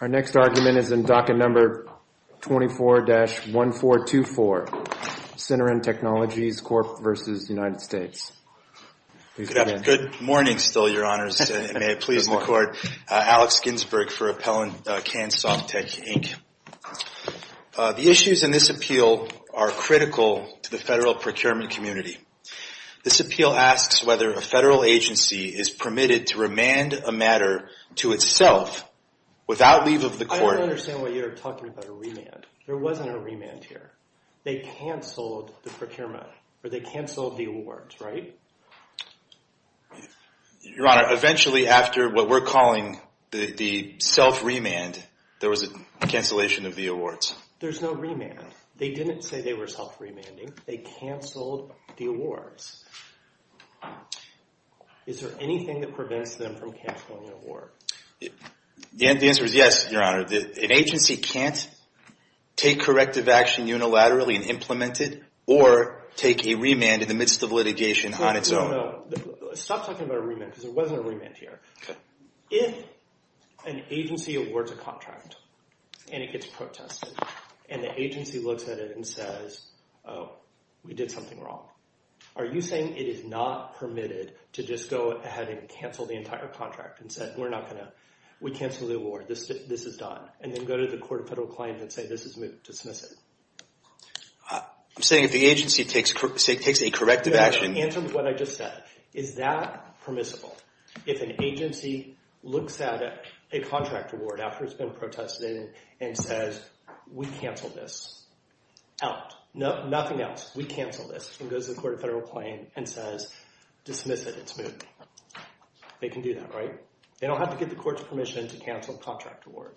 Our next argument is in docket number 24-1424, Syneren Technologies Corp. v. United States. Good morning, still, Your Honors, and may it please the Court. Alex Ginsberg for Appellant Kansoftec, Inc. The issues in this appeal are critical to the federal procurement community. This appeal asks whether a federal agency is permitted to remand a matter to itself without leave of the court. I don't understand why you're talking about a remand. There wasn't a remand here. They canceled the procurement, or they canceled the awards, right? Your Honor, eventually after what we're calling the self-remand, there was a cancellation of the awards. There's no remand. They didn't say they were self-remanding. They canceled the awards. Is there anything that prevents them from canceling the award? The answer is yes, Your Honor. An agency can't take corrective action unilaterally and implement it, or take a remand in the midst of litigation on its own. No, no, no. Stop talking about a remand, because there wasn't a remand here. If an agency awards a contract, and it gets protested, and the agency looks at it and says, oh, we did something wrong, are you saying it is not permitted to just go ahead and cancel the entire contract and say, we're not going to, we canceled the award, this is done, and then go to the court of federal claims and say, this is moved, dismiss it? I'm saying if the agency takes a corrective action... Answer what I just said. Is that permissible? If an agency looks at a contract award after it's been protested and says, we canceled this, out, nothing else, we canceled this, and goes to the court of federal claim and says, dismiss it, it's moved, they can do that, right? They don't have to get the court's permission to cancel a contract award.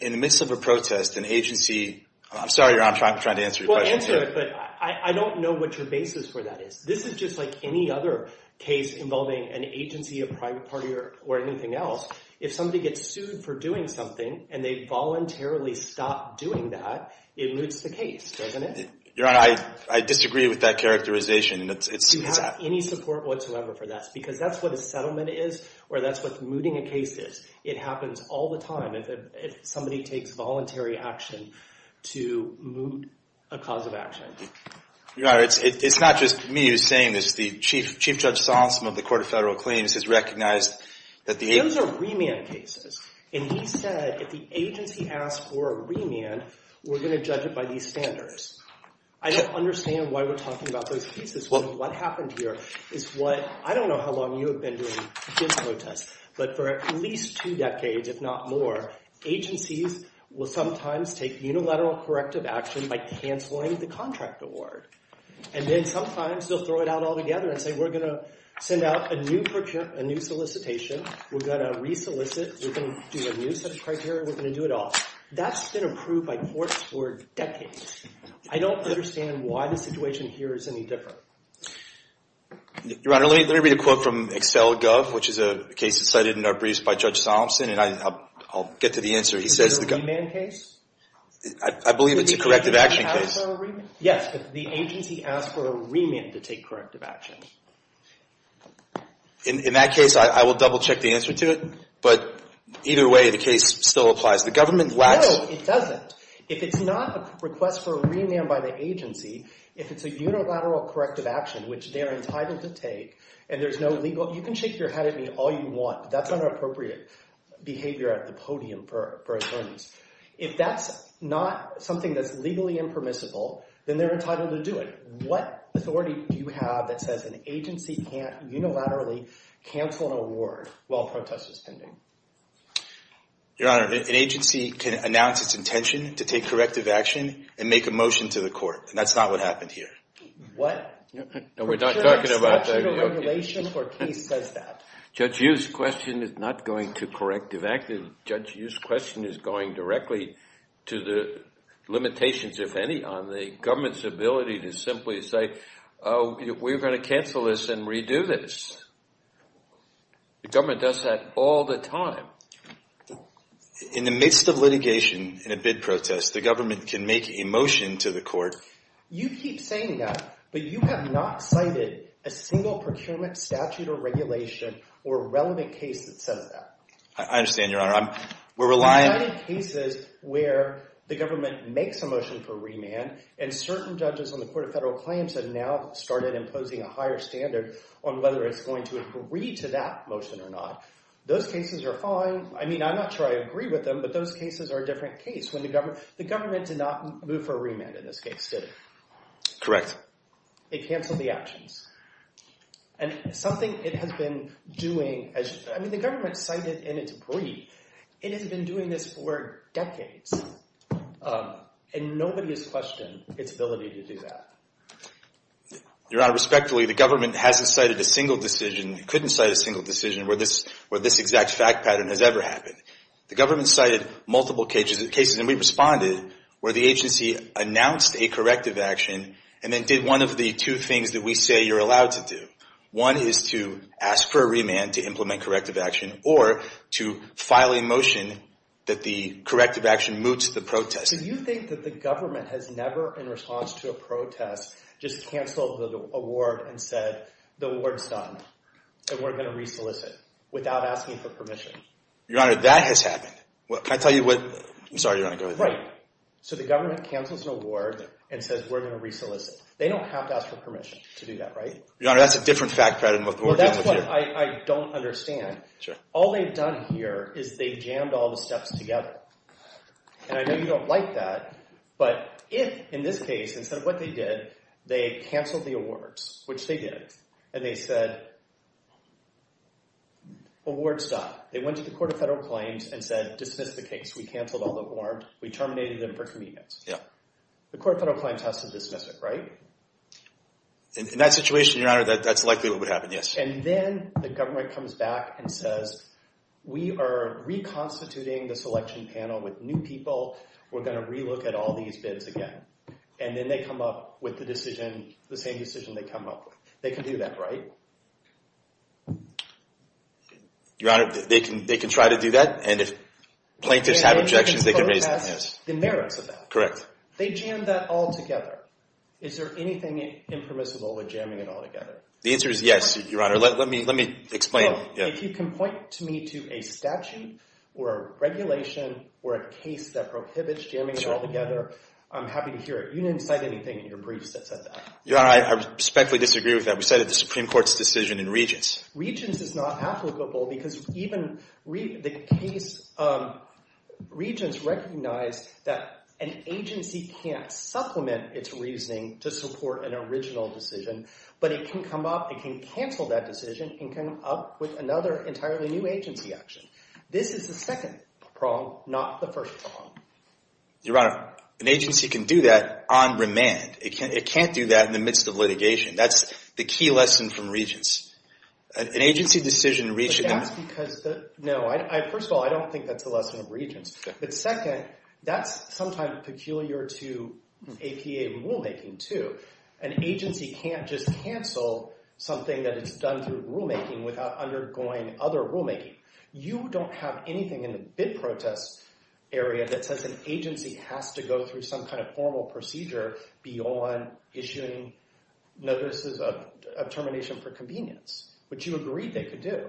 In the midst of a protest, an agency... I'm sorry, Your Honor, I'm trying to answer your question here. Well, answer it, but I don't know what your basis for that is. This is just like any other case involving an agency, a private party, or anything else. If somebody gets sued for doing something, and they voluntarily stop doing that, it moots the case, doesn't it? Your Honor, I disagree with that characterization. Do you have any support whatsoever for that? Because that's what a settlement is, or that's what mooting a case is. It happens all the time if somebody takes voluntary action to moot a cause of action. Your Honor, it's not just me who's saying this, the Chief Judge Sonson of the Court of Federal Claims has recognized that the agency... Those are remand cases, and he said if the agency asks for a remand, we're going to judge it by these standards. I don't understand why we're talking about those cases. What happened here is what... I don't know how long you have been doing this protest, but for at least two decades, if not more, agencies will sometimes take unilateral corrective action by canceling the contract award. And then sometimes they'll throw it out all together and say, we're going to send out a new solicitation, we're going to re-solicit, we're going to do a new set of criteria, we're going to do it all. That's been approved by courts for decades. I don't understand why the situation here is any different. Your Honor, let me read a quote from Excel.gov, which is a case cited in our briefs by Judge Sonson, and I'll get to the answer. Is it a remand case? I believe it's a corrective action case. Yes, but the agency asked for a remand to take corrective action. In that case, I will double-check the answer to it, but either way, the case still applies. The government lacks... No, it doesn't. If it's not a request for a remand by the agency, if it's a unilateral corrective action, which they are entitled to take, and there's no legal... You can shake your head at me all you want, but that's not an appropriate behavior at the podium for attorneys. If that's not something that's legally impermissible, then they're entitled to do it. What authority do you have that says an agency can't unilaterally cancel an award while a protest is pending? Your Honor, an agency can announce its intention to take corrective action and make a motion to the court, and that's not what happened here. What? No, we're not talking about that, Your Honor. What sort of regulation or case says that? Judge Yu's question is not going to corrective action. Judge Yu's question is going directly to the limitations, if any, on the government's ability to simply say, oh, we're going to cancel this and redo this. The government does that all the time. In the midst of litigation in a bid protest, the government can make a motion to the court... You keep saying that, but you have not cited a single procurement statute or regulation or relevant case that says that. I understand, Your Honor. We're relying... You've cited cases where the government makes a motion for remand, and certain judges on the Court of Federal Claims have now started imposing a higher standard on whether it's going to agree to that motion or not. Those cases are fine. I mean, I'm not sure I agree with them, but those cases are a different case. The government did not move for a remand in this case, did it? Correct. It canceled the actions. And something it has been doing... I mean, the government cited in its brief. It has been doing this for decades, and nobody has questioned its ability to do that. Your Honor, respectfully, the government hasn't cited a single decision, couldn't cite a single decision where this exact fact pattern has ever happened. The government cited multiple cases, and we responded where the agency announced a corrective action and then did one of the two things that we say you're allowed to do. One is to ask for a remand to implement corrective action or to file a motion that the corrective action moves to the protest. Do you think that the government has never, in response to a protest, just canceled the award and said, the award's done and we're going to re-solicit without asking for permission? Your Honor, that has happened. Well, can I tell you what... I'm sorry, Your Honor, go ahead. Right. So the government cancels an award and says we're going to re-solicit. They don't have to ask for permission to do that, right? Your Honor, that's a different fact pattern than what we're dealing with here. Well, that's what I don't understand. Sure. All they've done here is they've jammed all the steps together. And I know you don't like that, but if, in this case, instead of what they did, they canceled the awards, which they did, and they said, award's done. They went to the Court of Federal Claims and said, dismiss the case. We canceled all the warrants. We terminated them for convenience. Yeah. The Court of Federal Claims has to dismiss it, right? In that situation, Your Honor, that's likely what would happen, yes. And then the government comes back and says, we are reconstituting the selection panel with new people. We're going to re-look at all these bids again. And then they come up with the decision, the same decision they come up with. They can do that, right? Your Honor, they can try to do that. And if plaintiffs have objections, they can raise them, yes. The merits of that. Correct. They jammed that all together. Is there anything impermissible with jamming it all together? The answer is yes, Your Honor. Let me explain. If you can point to me to a statute, or a regulation, or a case that prohibits jamming it all together, I'm happy to hear it. You didn't cite anything in your briefs that said that. Your Honor, I respectfully disagree with that. We cited the Supreme Court's decision in Regents. Regents is not applicable, because even the case Regents recognized that an agency can't supplement its reasoning to support an original decision. But it can come up, it can cancel that decision, and come up with another entirely new agency action. This is the second prong, not the first prong. Your Honor, an agency can do that on remand. It can't do that in the midst of litigation. That's the key lesson from Regents. An agency decision reached in the- But that's because the- No, first of all, I don't think that's the lesson of Regents. But second, that's sometimes peculiar to APA rulemaking, too. An agency can't just cancel something that it's done through rulemaking without undergoing other rulemaking. You don't have anything in the bid protest area that says an agency has to go through some kind of formal procedure beyond issuing notices of termination for convenience, which you agreed they could do.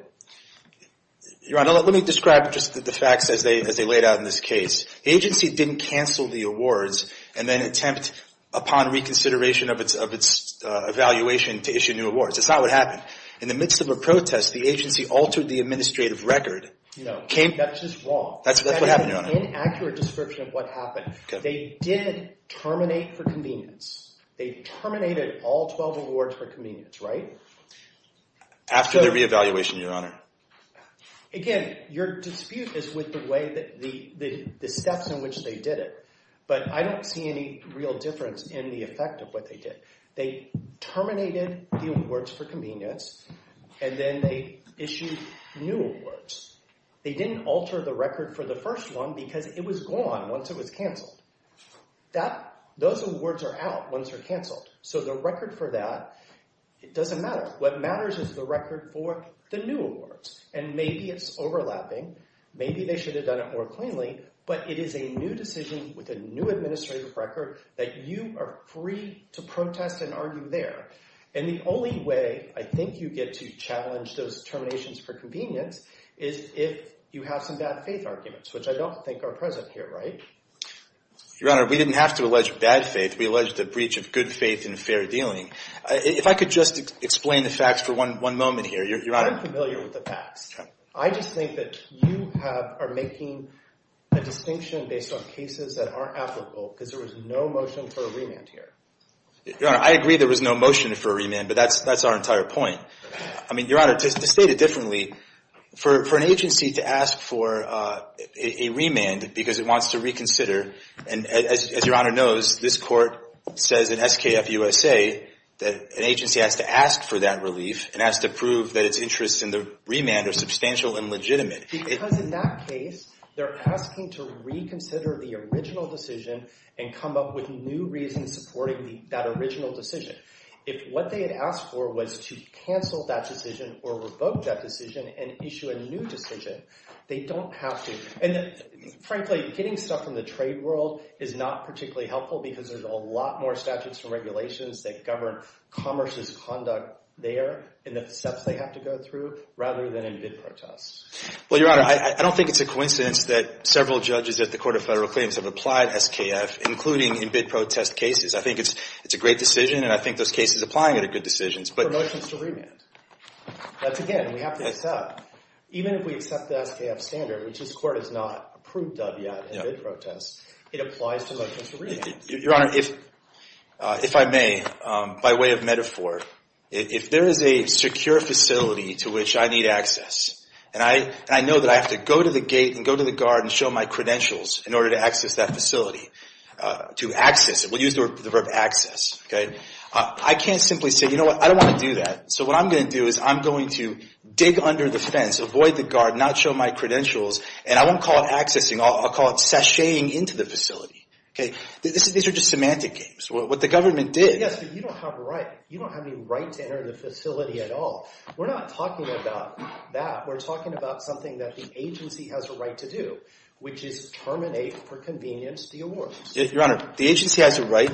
Your Honor, let me describe just the facts as they laid out in this case. The agency didn't cancel the awards and then attempt, upon reconsideration of its evaluation, to issue new awards. That's not what happened. In the midst of a protest, the agency altered the administrative record. No, that's just wrong. That's what happened, Your Honor. That is an inaccurate description of what happened. They did terminate for convenience. They terminated all 12 awards for convenience, right? After their re-evaluation, Your Honor. Again, your dispute is with the steps in which they did it. But I don't see any real difference in the effect of what they did. They terminated the awards for convenience, and then they issued new awards. They didn't alter the record for the first one because it was gone once it was canceled. Those awards are out once they're canceled. So the record for that, it doesn't matter. What matters is the record for the new awards. And maybe it's overlapping. Maybe they should have done it more cleanly. But it is a new decision with a new administrative record that you are free to protest and argue there. And the only way I think you get to challenge those terminations for convenience is if you have some bad faith arguments, which I don't think are present here, right? Your Honor, we didn't have to allege bad faith. We alleged a breach of good faith and fair dealing. If I could just explain the facts for one moment here. Your Honor. I'm familiar with the facts. I just think that you are making a distinction based on cases that aren't applicable because there was no motion for a remand here. Your Honor, I agree there was no motion for a remand, but that's our entire point. I mean, Your Honor, to state it differently, for an agency to ask for a remand because it wants to reconsider, and as Your Honor knows, this court says in SKF USA that an agency has to ask for that relief and has to prove that its interests in the remand are substantial and legitimate. Because in that case, they're asking to reconsider the original decision and come up with new reasons supporting that original decision. If what they had asked for was to cancel that decision or revoke that decision and issue a new decision, they don't have to. And frankly, getting stuff from the trade world is not particularly helpful because there's a lot more statutes and regulations that govern commerce's conduct there and the steps they have to go through rather than in bid protests. Well, Your Honor, I don't think it's a coincidence that several judges at the Court of Federal Claims have applied SKF, including in bid protest cases. I think it's a great decision, and I think those cases applying it are good decisions. Promotions to remand. That's again, we have to accept. Even if we accept the SKF standard, which this court has not approved of yet in bid protests, it applies to motions to remand. Your Honor, if I may, by way of metaphor, if there is a secure facility to which I need access, and I know that I have to go to the gate and go to the guard and show my credentials in order to access that facility, to access it, we'll use the verb access, okay? I can't simply say, you know what, I don't wanna do that. So what I'm gonna do is I'm going to dig under the fence, avoid the guard, not show my credentials, and I won't call it accessing, I'll call it sashaying into the facility, okay? These are just semantic games. What the government did. Yes, but you don't have a right. You don't have any right to enter the facility at all. We're not talking about that. We're talking about something that the agency has a right to do, which is terminate for convenience the award. Your Honor, the agency has a right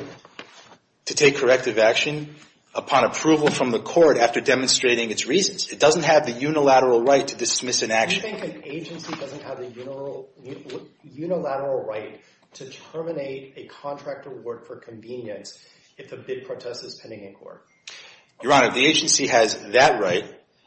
to take corrective action upon approval from the court after demonstrating its reasons. It doesn't have the unilateral right to dismiss an action. Do you think an agency doesn't have a unilateral right to terminate a contract award for convenience if the bid protest is pending in court? Your Honor, the agency has that right,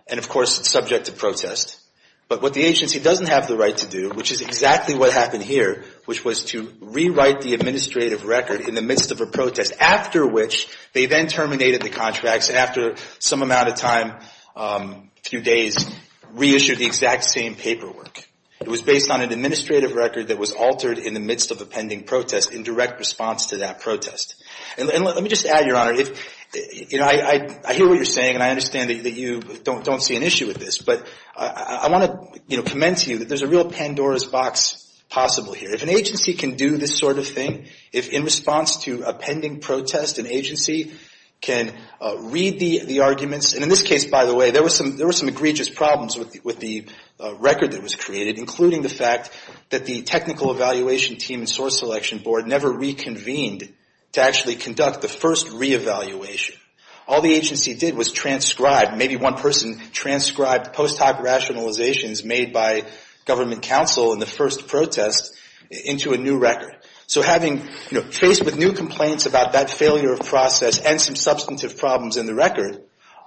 and of course it's subject to protest. But what the agency doesn't have the right to do, which is exactly what happened here, which was to rewrite the administrative record in the midst of a protest, after which they then terminated the contracts after some amount of time, a few days, reissued the exact same paperwork. It was based on an administrative record that was altered in the midst of a pending protest in direct response to that protest. And let me just add, Your Honor, I hear what you're saying, and I understand that you don't see an issue with this, but I want to commend to you that there's a real Pandora's box possible here. If an agency can do this sort of thing, if in response to a pending protest, an agency can read the arguments, and in this case, by the way, there were some egregious problems with the record that was created, including the fact that the technical evaluation team and source selection board never reconvened to actually conduct the first reevaluation. All the agency did was transcribe, maybe one person transcribed post-hoc rationalizations made by government counsel in the first protest into a new record. So having, you know, faced with new complaints about that failure of process and some substantive problems in the record,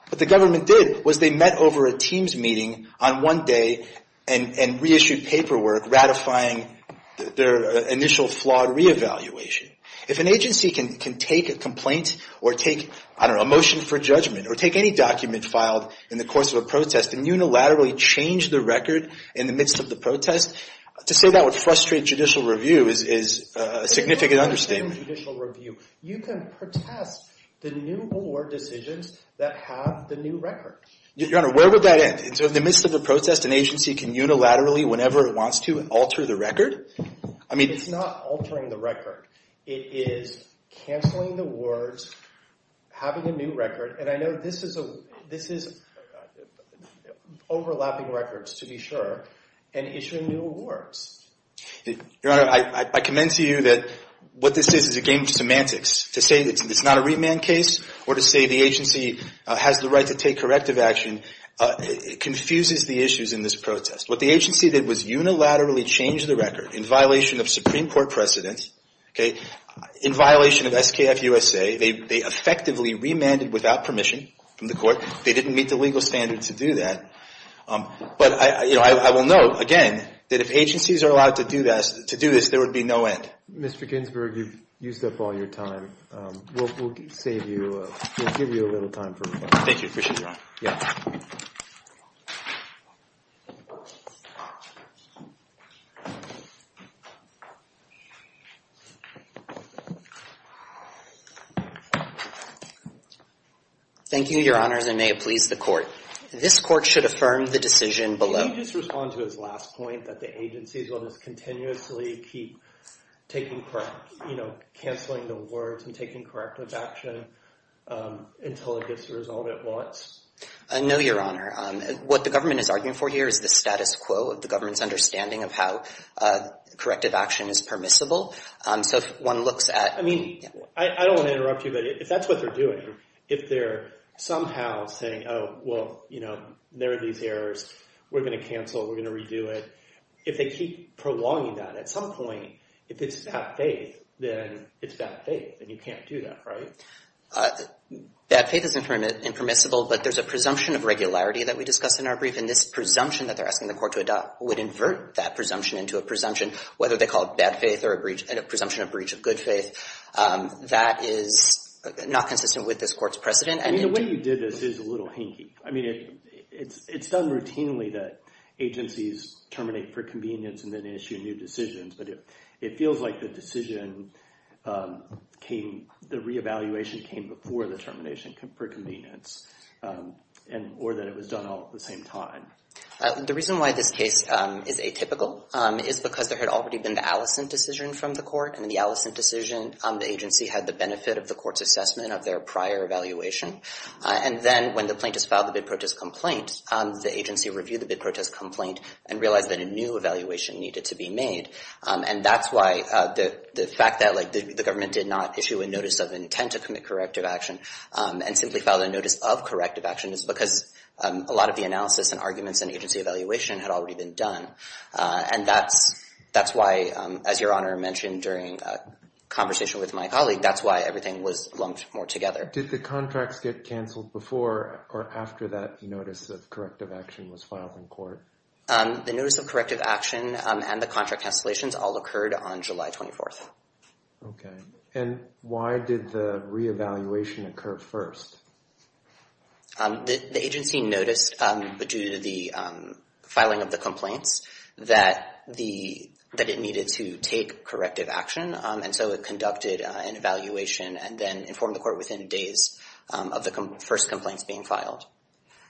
what the government did was they met over a teams meeting on one day and reissued paperwork ratifying their initial flawed reevaluation. If an agency can take a complaint, or take, I don't know, a motion for judgment, or take any document filed in the course of a protest and unilaterally change the record in the midst of the protest, to say that would frustrate judicial review is a significant understatement. If you can frustrate judicial review, you can protest the new award decisions that have the new record. Your Honor, where would that end? In the midst of a protest, an agency can unilaterally, whenever it wants to, alter the record? I mean- It's not altering the record. It is canceling the awards, having a new record, and I know this is overlapping records to be sure, and issuing new awards. Your Honor, I commend to you that what this is is a game of semantics. To say that it's not a remand case, or to say the agency has the right to take corrective action, confuses the issues in this protest. What the agency did was unilaterally change the record in violation of Supreme Court precedence, in violation of SKF USA. They effectively remanded without permission from the court. They didn't meet the legal standards to do that. But I will note, again, that if agencies are allowed to do this, there would be no end. Mr. Ginsburg, you've used up all your time. We'll save you, we'll give you a little time for rebuttal. Thank you, appreciate your honor. Yeah. Thank you, Your Honors, and may it please the court. This court should affirm the decision below. Can you just respond to his last point, that the agencies will just continuously keep taking correct, canceling the words and taking corrective action until it gets resolved at once? No, Your Honor. What the government is arguing for here is the status quo of the government's understanding of how corrective action is permissible. So if one looks at- I mean, I don't want to interrupt you, but if that's what they're doing, if they're somehow saying, oh, well, there are these errors, we're gonna cancel, we're gonna redo it. If they keep prolonging that, at some point, if it's bad faith, then it's bad faith, and you can't do that, right? Bad faith is impermissible, but there's a presumption of regularity that we discussed in our brief, and this presumption that they're asking the court to adopt would invert that presumption into a presumption, whether they call it bad faith or a presumption of breach of good faith. That is not consistent with this court's precedent. I mean, the way you did this is a little hinky. I mean, it's done routinely that agencies terminate per convenience and then issue new decisions, but it feels like the decision came, the reevaluation came before the termination per convenience, or that it was done all at the same time. The reason why this case is atypical is because there had already been the Allison decision from the court, and in the Allison decision, the agency had the benefit of the court's assessment of their prior evaluation, and then when the plaintiff filed the bid-purchase complaint, the agency reviewed the bid-purchase complaint and realized that a new evaluation needed to be made, and that's why the fact that the government did not issue a notice of intent to commit corrective action and simply filed a notice of corrective action is because a lot of the analysis and arguments in agency evaluation had already been done, and that's why, as Your Honor mentioned during a conversation with my colleague, that's why everything was lumped more together. Did the contracts get canceled before or after that notice of corrective action was filed in court? The notice of corrective action and the contract cancellations all occurred on July 24th. Okay, and why did the reevaluation occur first? The agency noticed, due to the filing of the complaints, that it needed to take corrective action, and so it conducted an evaluation and then informed the court within days of the first complaints being filed.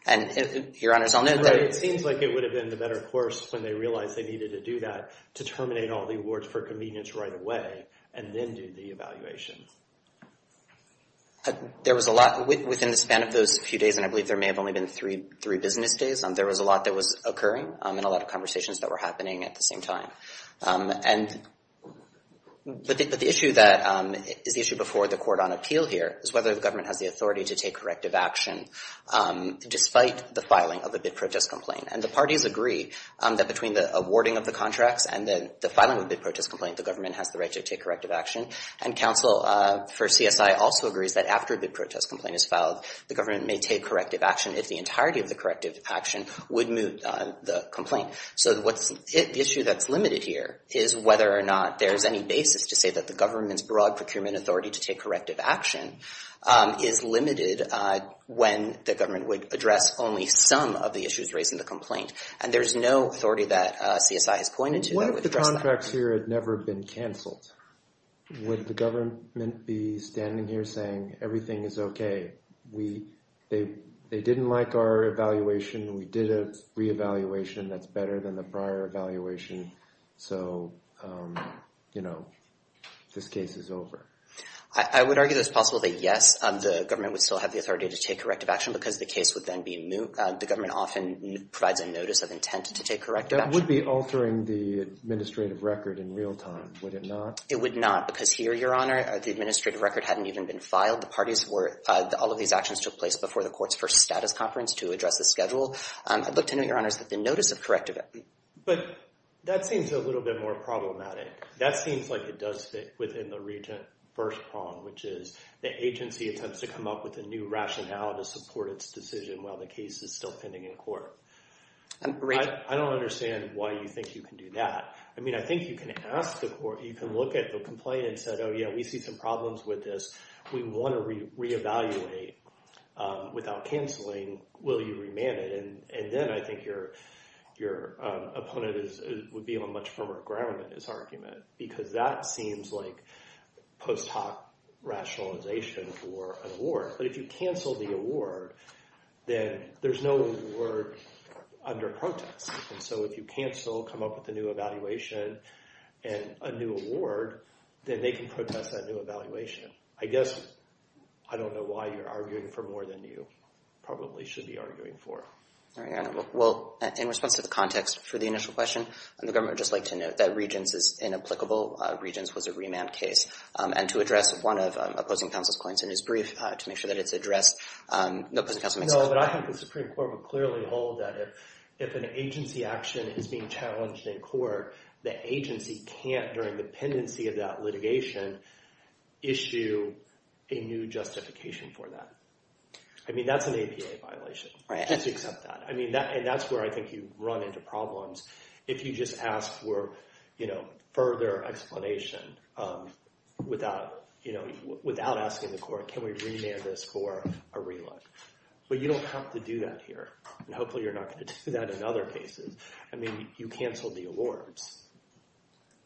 And Your Honors, I'll note that- Right, it seems like it would have been the better course when they realized they needed to do that to terminate all the awards for convenience right away and then do the evaluation. There was a lot, within the span of those few days, and I believe there may have only been three business days, there was a lot that was occurring and a lot of conversations that were happening at the same time. But the issue that, is the issue before the court on appeal here, is whether the government has the authority to take corrective action despite the filing of a bid protest complaint. And the parties agree that between the awarding of the contracts and then the filing of the bid protest complaint, the government has the right to take corrective action. And counsel for CSI also agrees that after a bid protest complaint is filed, the government may take corrective action if the entirety of the corrective action would move the complaint. So the issue that's limited here is whether or not there's any basis to say that the government's broad procurement authority to take corrective action is limited when the government would address only some of the issues raised in the complaint. And there's no authority that CSI has pointed to that would address that. What if the contracts here had never been canceled? Would the government be standing here saying, everything is okay, they didn't like our evaluation, we did a reevaluation that's better than the prior evaluation, so, this case is over. I would argue that it's possible that yes, the government would still have the authority to take corrective action because the case would then be moved. The government often provides a notice of intent to take corrective action. That would be altering the administrative record in real time, would it not? It would not, because here, your honor, the administrative record hadn't even been filed. The parties were, all of these actions took place before the court's first status conference to address the schedule. I'd look to note, your honors, that the notice of corrective action. But that seems a little bit more problematic. That seems like it does fit within the regent first prong, which is the agency attempts to come up with a new rationale to support its decision while the case is still pending in court. I don't understand why you think you can do that. I mean, I think you can ask the court, you can look at the complaint and say, oh yeah, we see some problems with this, we wanna reevaluate without canceling, will you remand it? And then I think your opponent would be on much firmer ground in his argument, because that seems like post hoc rationalization for an award. But if you cancel the award, then there's no award under protest. And so if you cancel, come up with a new evaluation, and a new award, then they can protest that new evaluation. I guess, I don't know why you're arguing for more than you probably should be arguing for. All right, your honor, well, in response to the context for the initial question, and the government would just like to note that Regents is inapplicable, Regents was a remand case. And to address one of opposing counsel's points in his brief to make sure that it's addressed, no, opposing counsel makes sense. No, but I think the Supreme Court would clearly hold that if an agency action is being challenged in court, the agency can't, during the pendency of that litigation, issue a new justification for that. I mean, that's an APA violation, just accept that. I mean, and that's where I think you run into problems. If you just ask for further explanation, without asking the court, can we remand this for a relook? But you don't have to do that here. And hopefully, you're not gonna do that in other cases. I mean, you canceled the awards.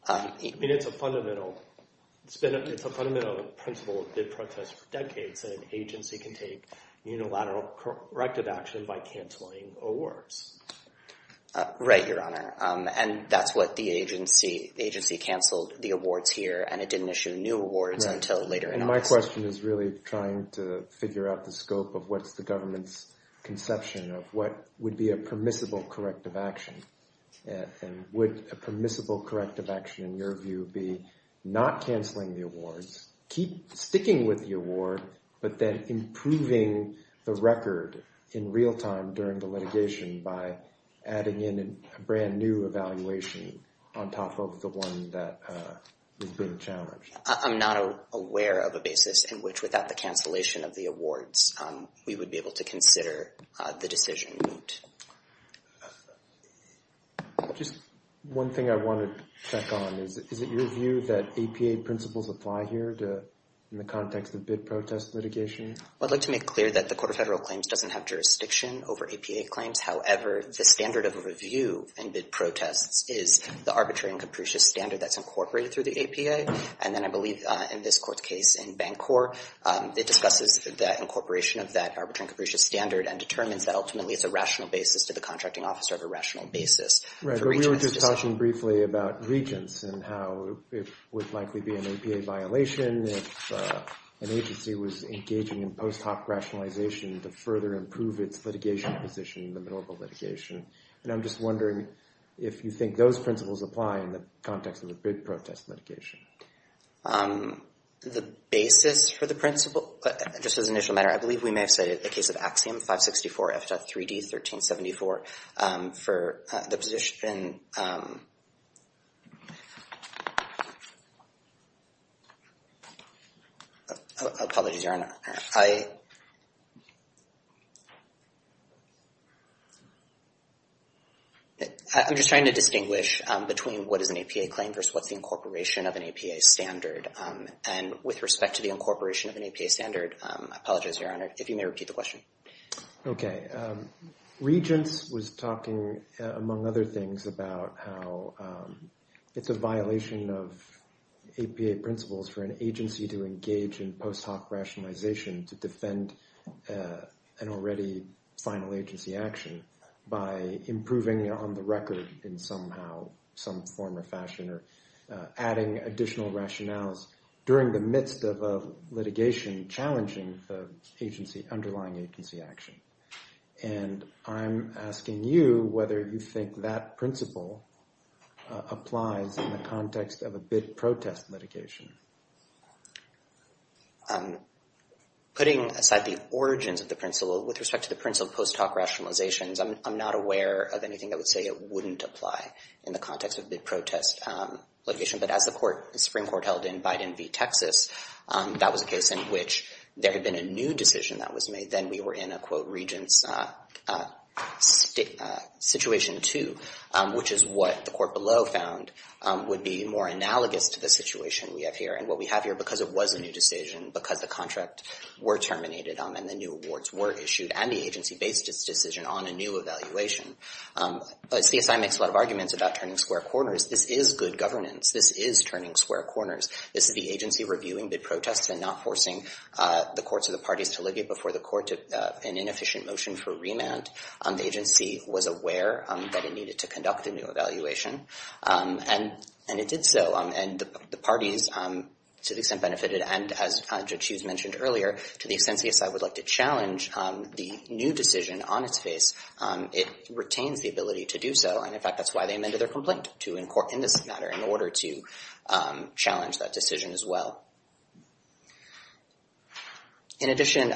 I mean, it's a fundamental principle that did protest for decades, that an agency can take unilateral corrective action by canceling awards. Right, Your Honor. And that's what the agency, the agency canceled the awards here, and it didn't issue new awards until later in August. And my question is really trying to figure out the scope of what's the government's conception of what would be a permissible corrective action. And would a permissible corrective action, in your view, be not canceling the awards, keep sticking with the award, but then improving the record in real time during the litigation by adding in a brand new evaluation on top of the one that was being challenged? I'm not aware of a basis in which, without the cancellation of the awards, we would be able to consider the decision. Just one thing I wanted to check on is, is it your view that APA principles apply here in the context of bid protest litigation? I'd like to make clear that the Court of Federal Claims doesn't have jurisdiction over APA claims. However, the standard of review in bid protests is the arbitrary and capricious standard that's incorporated through the APA. And then I believe in this court's case in Bancorp, it discusses the incorporation of that arbitrary and capricious standard and determines that ultimately it's a rational basis to the contracting officer of a rational basis. Right, but we were just talking briefly about regents and how it would likely be an APA violation if an agency was engaging in post hoc rationalization to further improve its litigation position in the middle of a litigation. And I'm just wondering if you think those principles apply in the context of a bid protest litigation. The basis for the principle, just as an initial matter, I believe we may have cited the case of Axiom 564 F.3D 1374 for the position... Apologies, Your Honor. I... I'm just trying to distinguish between what is an APA claim versus what's the incorporation of an APA standard. And with respect to the incorporation of an APA standard, I apologize, Your Honor, if you may repeat the question. Okay. Regents was talking, among other things, about how it's a violation of APA principles for an agency to engage in post hoc rationalization to defend an already final agency action by improving on the record in somehow some form or fashion or adding additional rationales during the midst of a litigation challenging the agency, underlying agency action. And I'm asking you whether you think that principle applies in the context of a bid protest litigation. Putting aside the origins of the principle, with respect to the principle of post hoc rationalizations, I'm not aware of anything that would say it wouldn't apply in the context of bid protest litigation. But as the Supreme Court held in Biden v. Texas, that was a case in which there had been a new decision that was made. Then we were in a, quote, Regents situation too, which is what the court below found would be more analogous to the situation we have here. And what we have here, because it was a new decision, because the contract were terminated and the new awards were issued, and the agency based its decision on a new evaluation. CSI makes a lot of arguments about turning square corners. This is good governance. This is turning square corners. This is the agency reviewing bid protests and not forcing the courts or the parties to libya before the court took an inefficient motion for remand. The agency was aware that it needed to conduct a new evaluation, and it did so. And the parties, to the extent benefited, and as Judge Hughes mentioned earlier, to the extent CSI would like to challenge the new decision on its face, it retains the ability to do so. And in fact, that's why they amended their complaint in this matter, in order to challenge that decision as well. In addition,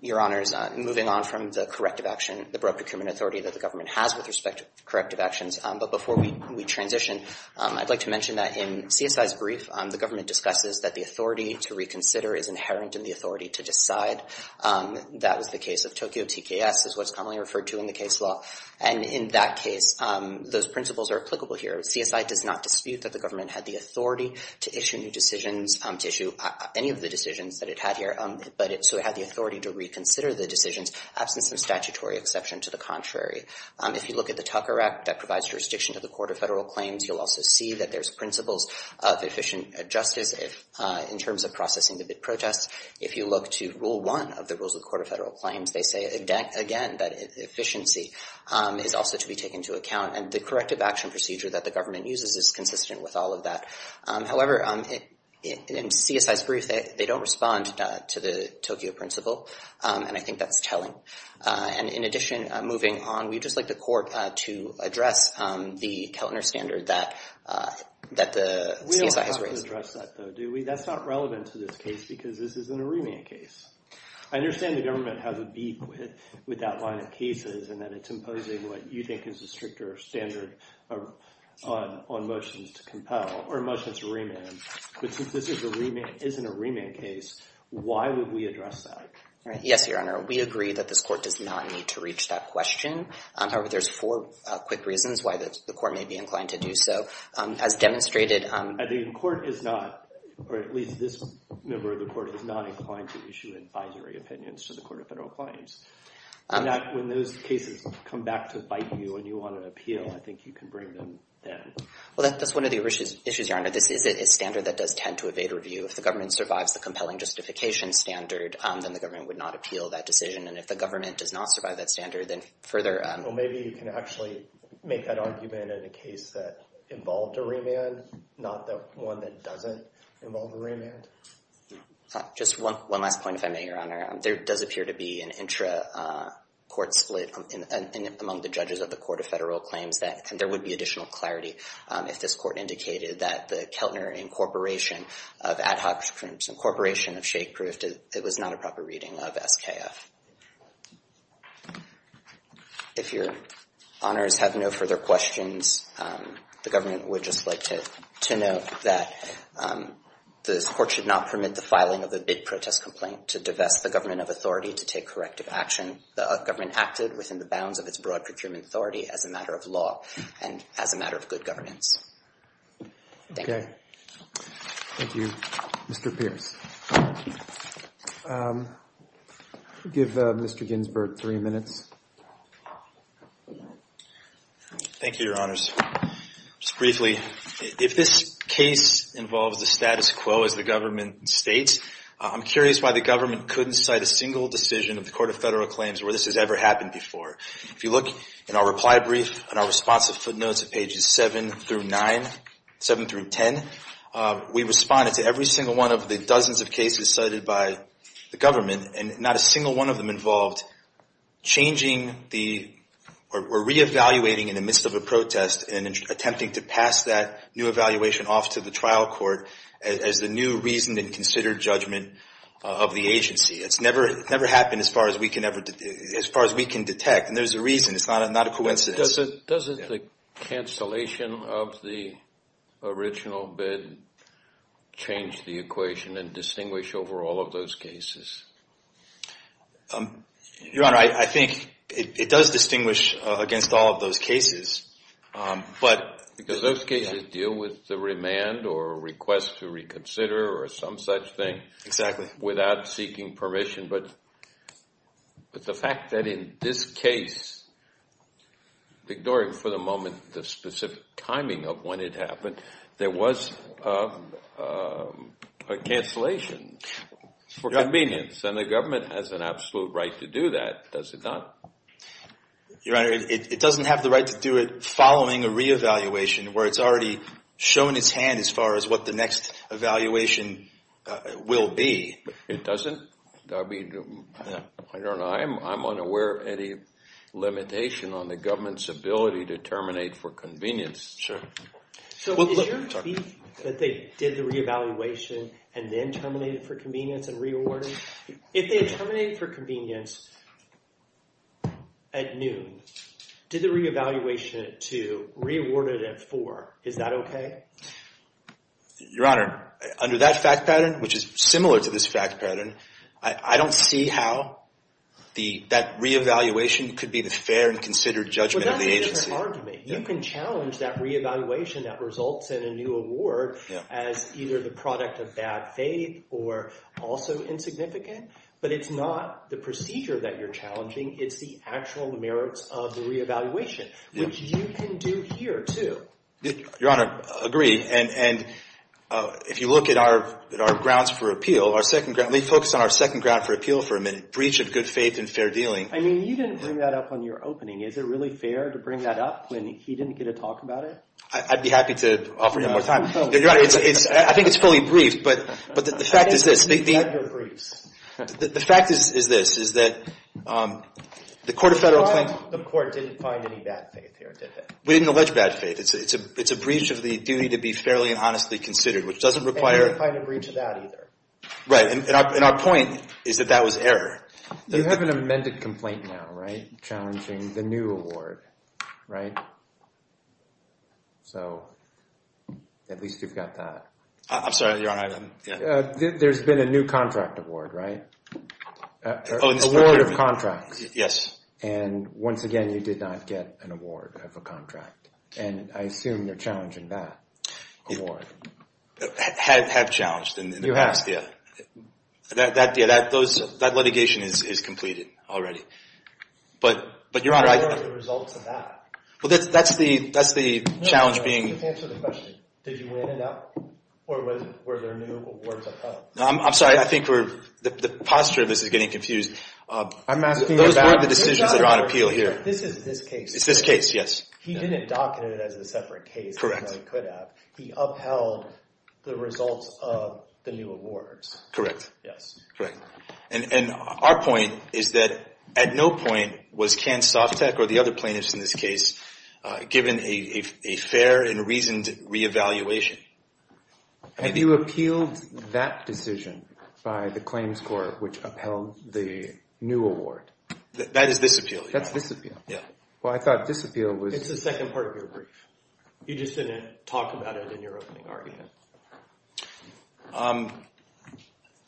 Your Honors, moving on from the corrective action, the broad procurement authority that the government has with respect to corrective actions, but before we transition, I'd like to mention that in CSI's brief, the government discusses that the authority to reconsider is inherent in the authority to decide. That is the case of Tokyo TKS, is what's commonly referred to in the case law. And in that case, those principles are applicable here. CSI does not dispute that the government had the authority to issue new decisions, to issue any of the decisions that it had here, but so it had the authority to reconsider the decisions, absence of statutory exception to the contrary. If you look at the Tucker Act, that provides jurisdiction to the Court of Federal Claims, you'll also see that there's principles of efficient justice in terms of processing the bid protests. If you look to rule one of the rules of the Court of Federal Claims, they say, again, that efficiency is also to be taken into account, and the corrective action procedure that the government uses is consistent with all of that. However, in CSI's brief, they don't respond to the Tokyo principle, and I think that's telling. And in addition, moving on, we'd just like the Court to address the Keltner standard that the CSI has raised. We don't have to address that, though, do we? That's not relevant to this case because this is an Aremia case. I understand the government has a beat with that line of cases, and that it's imposing what you think is a stricter standard on motions to compel, or motions to remand, but since this isn't a remand case, why would we address that? Yes, Your Honor, we agree that this court does not need to reach that question. However, there's four quick reasons why the court may be inclined to do so. As demonstrated- I think the court is not, or at least this member of the court is not inclined to issue advisory opinions to the Court of Federal Claims. When those cases come back to bite you and you want an appeal, I think you can bring them then. Well, that's one of the issues, Your Honor. This is a standard that does tend to evade review. If the government survives the compelling justification standard, then the government would not appeal that decision, and if the government does not survive that standard, then further- Well, maybe you can actually make that argument in a case that involved a remand, not the one that doesn't involve a remand. Just one last point, if I may, Your Honor. There does appear to be an intra-court split among the judges of the Court of Federal Claims that there would be additional clarity if this court indicated that the Keltner incorporation of ad hoc groups, incorporation of shake-proofed, it was not a proper reading of SKF. If Your Honors have no further questions, the government would just like to note that this court should not permit the filing of a bid protest complaint to divest the government of authority to take corrective action. The government acted within the bounds of its broad procurement authority as a matter of law and as a matter of good governance. Thank you. Thank you, Mr. Pierce. Give Mr. Ginsburg three minutes. Thank you, Your Honors. Just briefly, if this case involves the status quo as the government states, I'm curious why the government couldn't cite a single decision of the Court of Federal Claims where this has ever happened before. If you look in our reply brief and our response of footnotes at pages seven through nine, seven through 10, we responded to every single one of the dozens of cases cited by the government and not a single one of them involved changing the, or reevaluating in the midst of a protest and attempting to pass that new evaluation taken off to the trial court as the new reason and considered judgment of the agency. It's never happened as far as we can detect, and there's a reason. It's not a coincidence. Doesn't the cancellation of the original bid change the equation and distinguish over all of those cases? Your Honor, I think it does distinguish against all of those cases, but... Because those cases deal with the remand or request to reconsider or some such thing. Without seeking permission, but the fact that in this case, ignoring for the moment the specific timing of when it happened, there was a cancellation for convenience, and the government has an absolute right to do that, does it not? Your Honor, it doesn't have the right to do it following a reevaluation where it's already shown its hand as far as what the next evaluation will be. It doesn't. I don't know. I'm unaware of any limitation on the government's ability to terminate for convenience. Sure. So is your belief that they did the reevaluation and then terminated for convenience and re-awarded? If they had terminated for convenience at noon, did the reevaluation at two, re-awarded at four, is that okay? Your Honor, under that fact pattern, which is similar to this fact pattern, I don't see how that reevaluation could be the fair and considered judgment of the agency. But that's a different argument. You can challenge that reevaluation that results in a new award as either the product of bad faith or also insignificant, but it's not the procedure that you're challenging, it's the actual merits of the reevaluation, which you can do here, too. Your Honor, I agree. And if you look at our grounds for appeal, our second ground, let me focus on our second ground for appeal for a minute, breach of good faith and fair dealing. I mean, you didn't bring that up on your opening. Is it really fair to bring that up when he didn't get to talk about it? I'd be happy to offer him more time. Your Honor, I think it's fully briefed, but the fact is this, the fact is this, is that the Court of Federal Claims. The Court didn't find any bad faith here, did they? We didn't allege bad faith. It's a breach of the duty to be fairly and honestly considered, which doesn't require. And we didn't find a breach of that either. Right, and our point is that that was error. You have an amended complaint now, right, challenging the new award, right? So at least you've got that. I'm sorry, Your Honor, I'm, yeah. There's been a new contract award, right? Oh, it's procurement. Award of contracts. Yes. And once again, you did not get an award of a contract. And I assume you're challenging that award. Have challenged in the past, yeah. That, yeah, that litigation is completed already. But Your Honor, I. What are the results of that? Well, that's the challenge being. No, no, no, let's answer the question. Did you win it up, or were there new awards of funds? I'm sorry, I think we're, the posture of this is getting confused. I'm asking about. Those weren't the decisions that are on appeal here. This is this case. It's this case, yes. He didn't docket it as a separate case. Correct. As I could have. He upheld the results of the new awards. Correct. Yes. Correct. And our point is that at no point was Can Softec, or the other plaintiffs in this case, given a fair and reasoned reevaluation. Have you appealed that decision by the claims court, which upheld the new award? That is this appeal. That's this appeal. Yeah. Well, I thought this appeal was. It's the second part of your brief. You just didn't talk about it in your opening argument.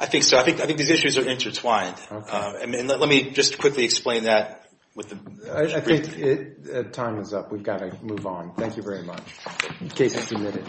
I think so. I think these issues are intertwined. Okay. And let me just quickly explain that with the brief. I think time is up. We've got to move on. Thank you very much. Case is submitted.